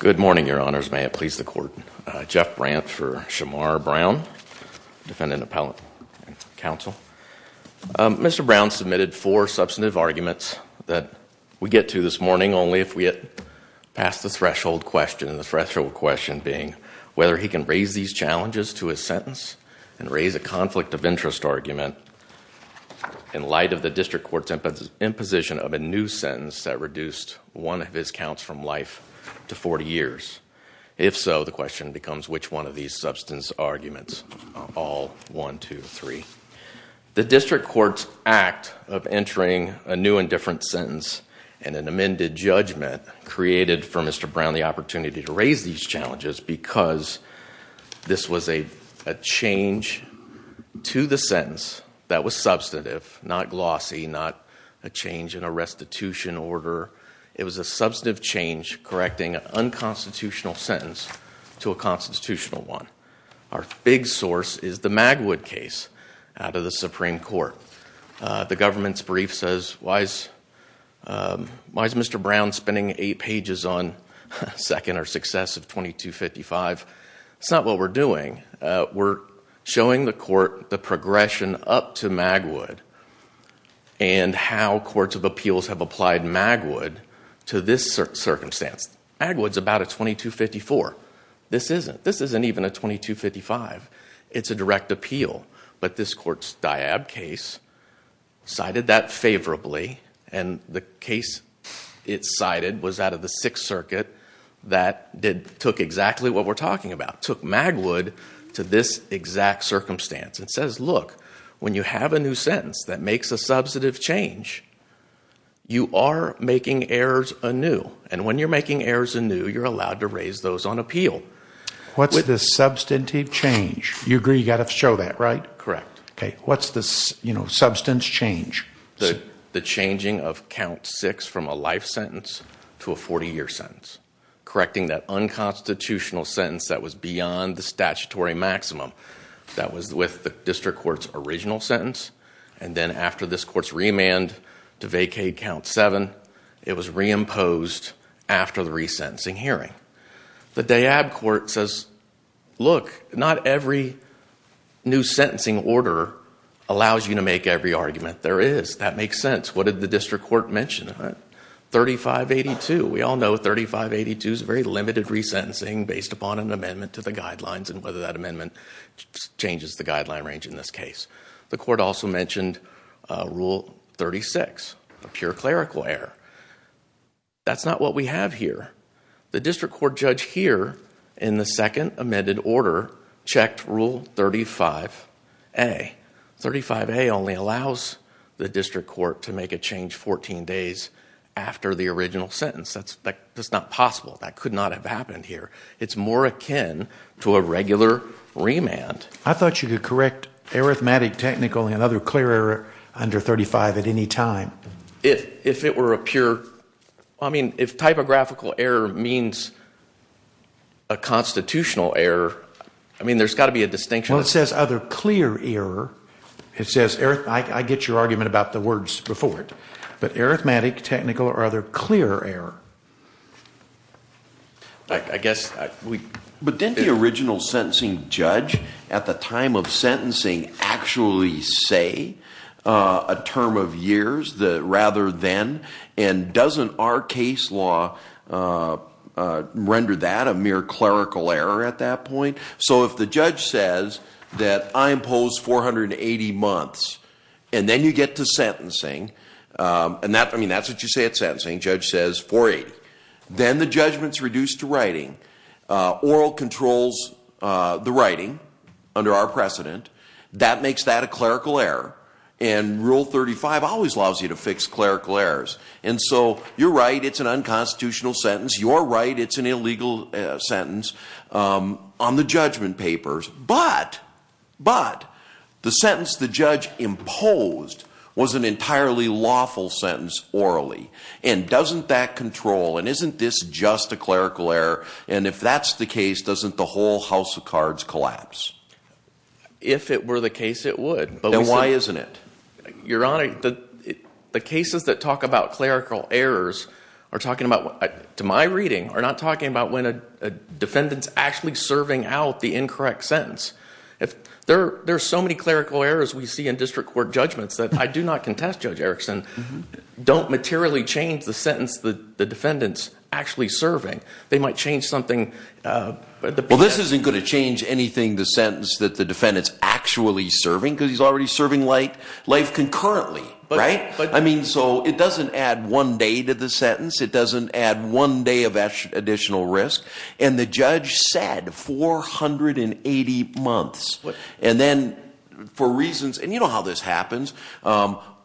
Good morning, your honors. May it please the court. Jeff Brandt for Charmar Brown, defendant appellate counsel. Mr. Brown submitted four substantive arguments that we get to this morning only if we get past the threshold question. The threshold question being whether he can raise these challenges to his sentence and raise a conflict of interest argument in light of the district court's imposition of a new sentence that reduced one of his counts from life to 40 years. If so, the question becomes which one of these substance arguments are all one, two, three. The district court's act of entering a new and different sentence and an amended judgment created for Mr. Brown the opportunity to raise these challenges because this was a change to the sentence that was a change in a restitution order. It was a substantive change correcting an unconstitutional sentence to a constitutional one. Our big source is the Magwood case out of the Supreme Court. The government's brief says why is Mr. Brown spending eight pages on second or success of 2255? It's not what we're doing. We're showing the court the progression up to Magwood and how courts of appeals have applied Magwood to this circumstance. Magwood's about a 2254. This isn't. This isn't even a 2255. It's a direct appeal, but this court's Diab case cited that favorably and the case it cited was out of the Sixth Circuit. Magwood to this exact circumstance. It says, look, when you have a new sentence that makes a substantive change, you are making errors anew. When you're making errors anew, you're allowed to raise those on appeal. What's the substantive change? You agree you've got to show that, right? Correct. What's the substance change? The changing of count six from a life sentence to a 40-year sentence. Correcting that unconstitutional sentence that was beyond the statutory maximum that was with the district court's original sentence and then after this court's remand to vacate count seven, it was reimposed after the resentencing hearing. The Diab court says, look, not every new sentencing order allows you to make every argument. There is. That makes sense. What did the district court mention? 3582. We all know 3582 is a very limited resentencing based upon an amendment to the guidelines and whether that amendment changes the guideline range in this case. The court also mentioned Rule 36, a pure clerical error. That's not what we have here. The district court judge here in the second amended order checked Rule 35A. 35A only allows the district court to make a change 14 days after the original sentence. That's not possible. That could not have happened here. It's more akin to a regular remand. I thought you could correct arithmetic, technical, and other clear error under 35 at any time. If it were a pure... I mean, if typographical error means a distinction... It says other clear error. I get your argument about the words before it, but arithmetic, technical, or other clear error... But didn't the original sentencing judge at the time of sentencing actually say a term of years rather than, and doesn't our case law render that a mere clerical error at that point? If the judge says that I impose 480 months, and then you get to sentencing, and that's what you say at sentencing, the judge says 480, then the judgment's reduced to writing. Oral controls the writing under our precedent. That makes that a clerical error. Rule 35 always allows you to fix clerical errors. You're right, it's an unconstitutional sentence. You're right, it's an illegal sentence on the judgment papers, but the sentence the judge imposed was an entirely lawful sentence orally, and doesn't that control, and isn't this just a clerical error, and if that's the case, doesn't the whole house of cards collapse? If it were the case, it would, but... Then why isn't it? Your Honor, the cases that talk about clerical errors are talking about... to my reading, are not talking about when a defendant's actually serving out the incorrect sentence. There are so many clerical errors we see in district court judgments that, I do not contest Judge Erickson, don't materially change the sentence that the defendant's actually serving. They might change something... Well, this isn't going to change anything, the sentence that the defendant's actually serving, because he's already serving life concurrently, right? I mean, so it doesn't add one day to the sentence, it doesn't add one day of additional risk, and the judge said 480 months, and then for reasons... and you know how this happens.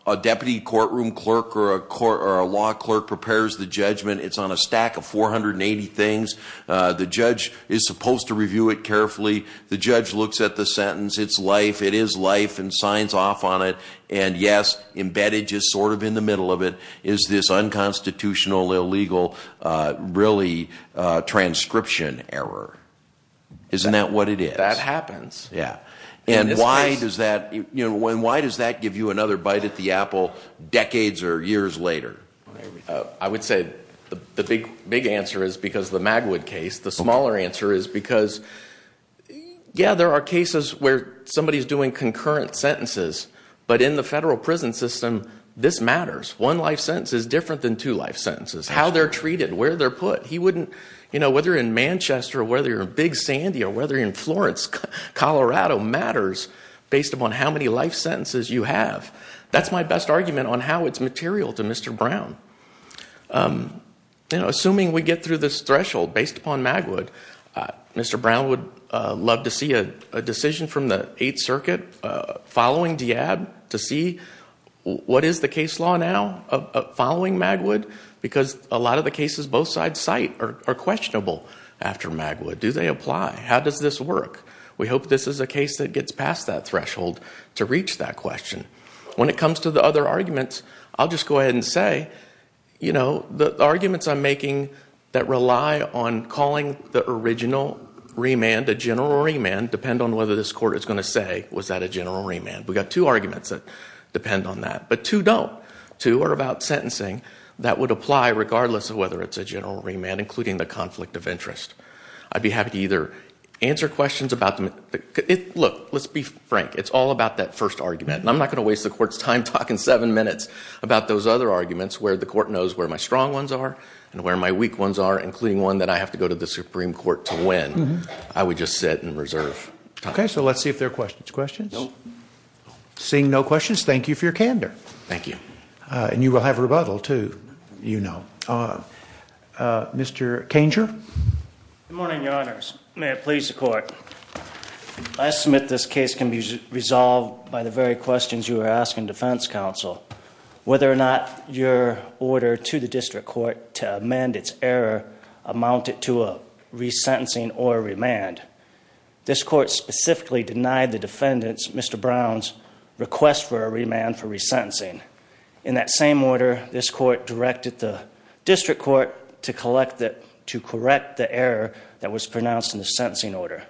A deputy courtroom clerk or a law clerk prepares the judgment, it's on a stack of 480 things, the judge is supposed to review it carefully, the judge looks at the sentence, it's life, it is life, and it's sort of in the middle of it, is this unconstitutional, illegal, really transcription error. Isn't that what it is? That happens. Yeah. And why does that, you know, why does that give you another bite at the apple decades or years later? I would say the big answer is because the Magwood case, the smaller answer is because, yeah, there are cases where somebody's doing concurrent sentences, but in the federal prison system, this matters. One life sentence is different than two life sentences. How they're treated, where they're put, he wouldn't, you know, whether in Manchester or whether you're in Big Sandy or whether in Florence, Colorado, matters based upon how many life sentences you have. That's my best argument on how it's material to Mr. Brown. You know, assuming we get through this threshold based upon Magwood, Mr. Brown would love to see a following Diab to see what is the case law now following Magwood, because a lot of the cases both sides cite are questionable after Magwood. Do they apply? How does this work? We hope this is a case that gets past that threshold to reach that question. When it comes to the other arguments, I'll just go ahead and say, you know, the arguments I'm making that rely on calling the original remand a general remand depend on whether this court is going to say, was that a general remand? We've got two arguments that depend on that, but two don't. Two are about sentencing that would apply regardless of whether it's a general remand, including the conflict of interest. I'd be happy to either answer questions about them. Look, let's be frank. It's all about that first argument, and I'm not going to waste the court's time talking seven minutes about those other arguments where the court knows where my strong ones are and where my weak ones are, including one that I have to go to the Supreme Court to win. I would just sit and reserve time. Okay, so let's see if there are questions. Questions? Seeing no questions, thank you for your candor. Thank you. And you will have rebuttal, too, you know. Mr. Kanger? Good morning, Your Honors. May it please the court. I submit this case can be resolved by the very questions you were asking Defense Counsel. Whether or not your order to the District Court to amend its error amounted to a resentencing or a remand, this court specifically denied the defendant's, Mr. Brown's, request for a remand for resentencing. In that same order, this court directed the District Court to correct the error that was pronounced in the sentencing order.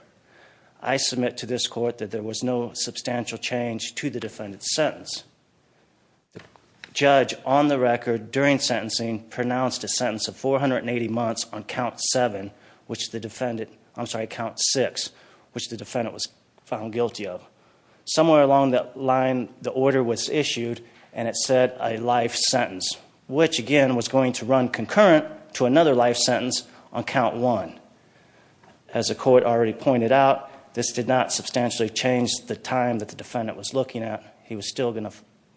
I submit to this court that there was no substantial change to the defendant's sentence. The judge, on the record during sentencing, pronounced a count six, which the defendant was found guilty of. Somewhere along that line, the order was issued and it said a life sentence, which again was going to run concurrent to another life sentence on count one. As the court already pointed out, this did not substantially change the time that the defendant was looking at. He was still going to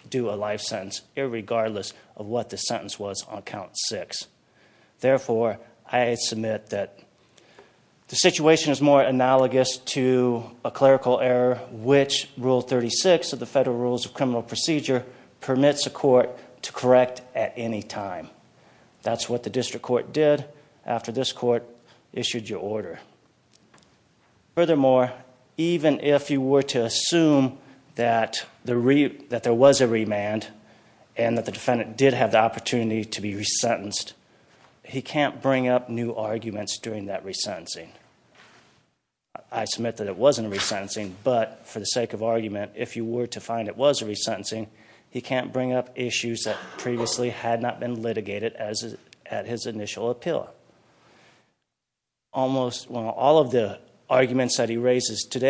do a life sentence, regardless of what the sentence was on count six. Therefore, I submit that the situation is more analogous to a clerical error, which Rule 36 of the Federal Rules of Criminal Procedure permits a court to correct at any time. That's what the District Court did after this court issued your order. Furthermore, even if you were to assume that there was a remand and that the defendant did have the opportunity to be resentenced, he can't bring up new arguments during that resentencing. I submit that it wasn't a resentencing, but for the sake of argument, if you were to find it was a resentencing, he can't bring up issues that previously had not been litigated as at his initial appeal. Almost all of the arguments that he previously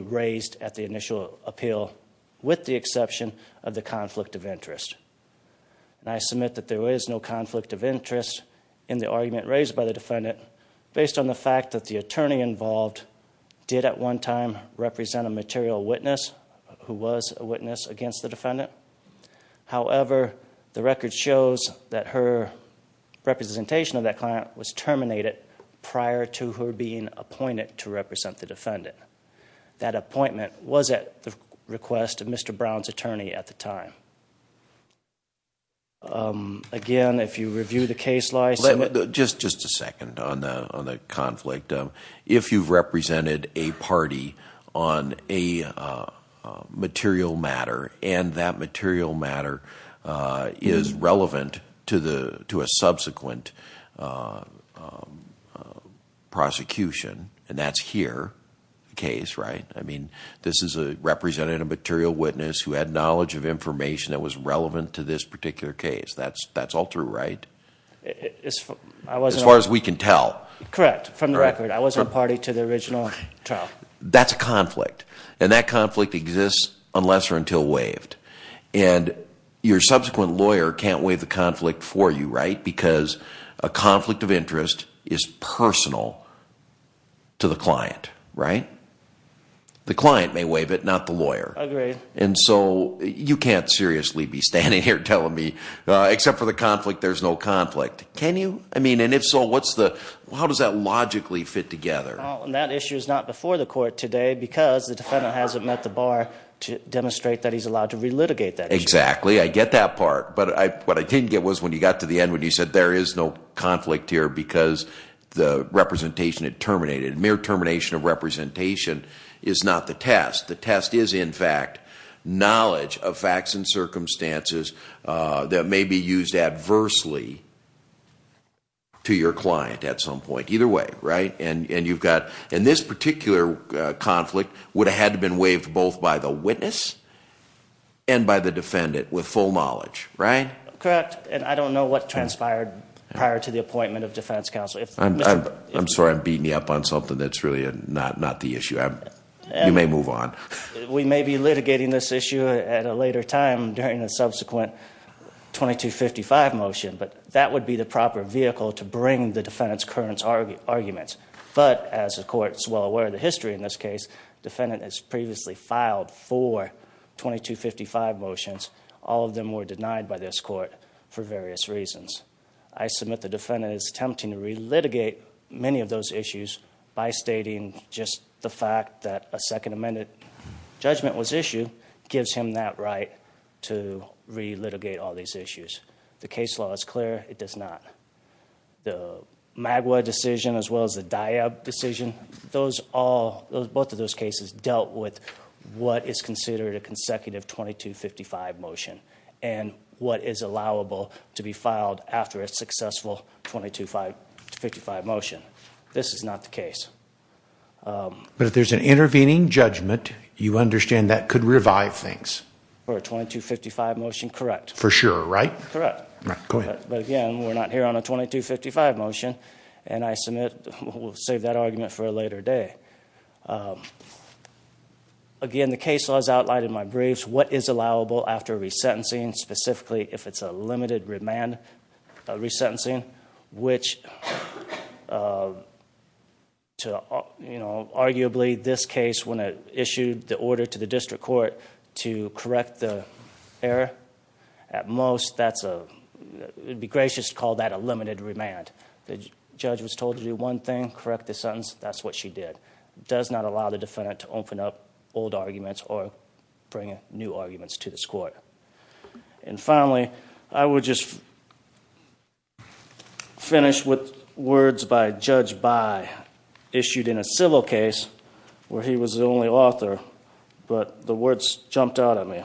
raised at the initial appeal, with the exception of the conflict of interest. I submit that there is no conflict of interest in the argument raised by the defendant, based on the fact that the attorney involved did at one time represent a material witness who was a witness against the defendant. However, the record shows that her representation of that client was that appointment was at the request of Mr. Brown's attorney at the time. Again, if you review the case law... Just a second on the conflict. If you've represented a party on a material matter and that material matter is relevant to a subsequent prosecution, and that's here, the case, right? This is a representative material witness who had knowledge of information that was relevant to this particular case. That's all true, right? As far as we can tell. Correct. From the record, I wasn't a party to the original trial. That's a conflict. That conflict exists unless or until waived. Your subsequent lawyer can't waive the conflict for you, right? Because a conflict of interest is personal to the client, right? The client may waive it, not the lawyer. Agreed. And so you can't seriously be standing here telling me, except for the conflict, there's no conflict. Can you? I mean, and if so, what's the... how does that logically fit together? That issue is not before the court today because the defendant hasn't met the bar to demonstrate that he's allowed to But what I didn't get was when you got to the end when you said there is no conflict here because the representation had terminated. Mere termination of representation is not the test. The test is, in fact, knowledge of facts and circumstances that may be used adversely to your client at some point. Either way, right? And you've got... and this particular conflict would have had to been waived both by the witness and by the defendant with full knowledge, right? Correct. And I don't know what transpired prior to the appointment of defense counsel. I'm sorry, I'm beating you up on something that's really not the issue. You may move on. We may be litigating this issue at a later time during the subsequent 2255 motion, but that would be the proper vehicle to bring the defendant's current arguments. But as the court is well aware of the history in this case, the defendant has previously filed four 2255 motions. All of them were denied by this court for various reasons. I submit the defendant is attempting to re-litigate many of those issues by stating just the fact that a Second Amendment judgment was issued gives him that right to re-litigate all these issues. The case law is clear, it does not. The Magwa decision as well as the Diab decision, both of those cases dealt with what is considered a consecutive 2255 motion and what is allowable to be filed after a successful 2255 motion. This is not the case. But if there's an intervening judgment, you understand that could revive things. For a 2255 motion, correct. For sure, right? Correct. But again, we're not here on a 2255 motion and I submit, we'll save that argument for a later day. Again, the case law is outlined in my briefs. What is allowable after resentencing, specifically if it's a limited remand resentencing, which to, you know, arguably this case when it issued the order to the district court to correct the error, at most that's a, it'd be gracious to let a limited remand. The judge was told to do one thing, correct the sentence, that's what she did. Does not allow the defendant to open up old arguments or bring new arguments to this court. And finally, I would just finish with words by Judge By, issued in a civil case where he was the only author, but the words jumped out at me.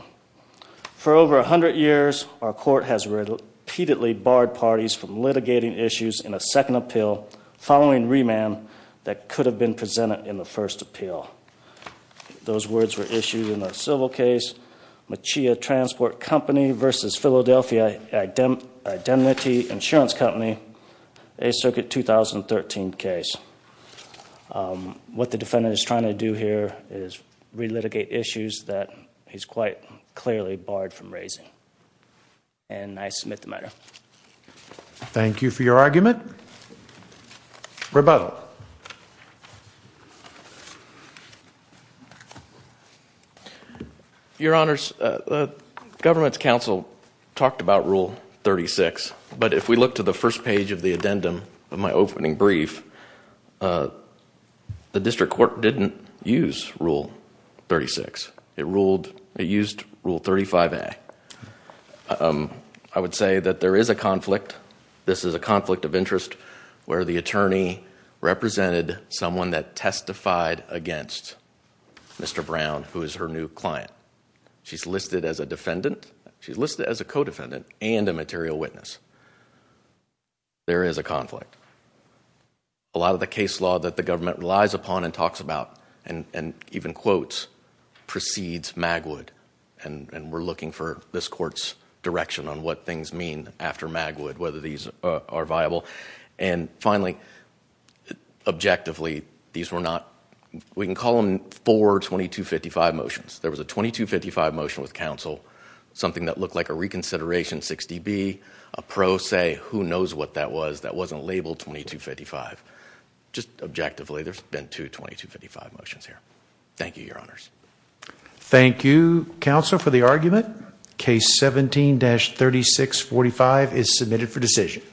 For over a hundred years, our court has repeatedly barred parties from litigating issues in a second appeal following remand that could have been presented in the first appeal. Those words were issued in the civil case, Machia Transport Company versus Philadelphia Identity Insurance Company, a circuit 2013 case. What the defendant is trying to do here is relitigate issues that he's quite clearly barred from raising. And I thank you for your argument. Rebuttal. Your Honors, the government's counsel talked about Rule 36, but if we look to the first page of the addendum of my opening brief, the district court didn't use Rule 36. It ruled, it used Rule 35A. I would say that there is a conflict this is a conflict of interest where the attorney represented someone that testified against Mr. Brown, who is her new client. She's listed as a defendant, she's listed as a co-defendant, and a material witness. There is a conflict. A lot of the case law that the government relies upon and talks about, and even quotes, precedes Magwood. And we're looking for this court's direction on what things mean after Magwood, whether these are viable. And finally, objectively, these were not, we can call them four 2255 motions. There was a 2255 motion with counsel, something that looked like a reconsideration 6dB, a pro se, who knows what that was that wasn't labeled 2255. Just objectively, there's been two 2255 motions here. Thank you, Your Honors. Thank you, counsel, for the argument. Case 17-3645 is submitted for decision.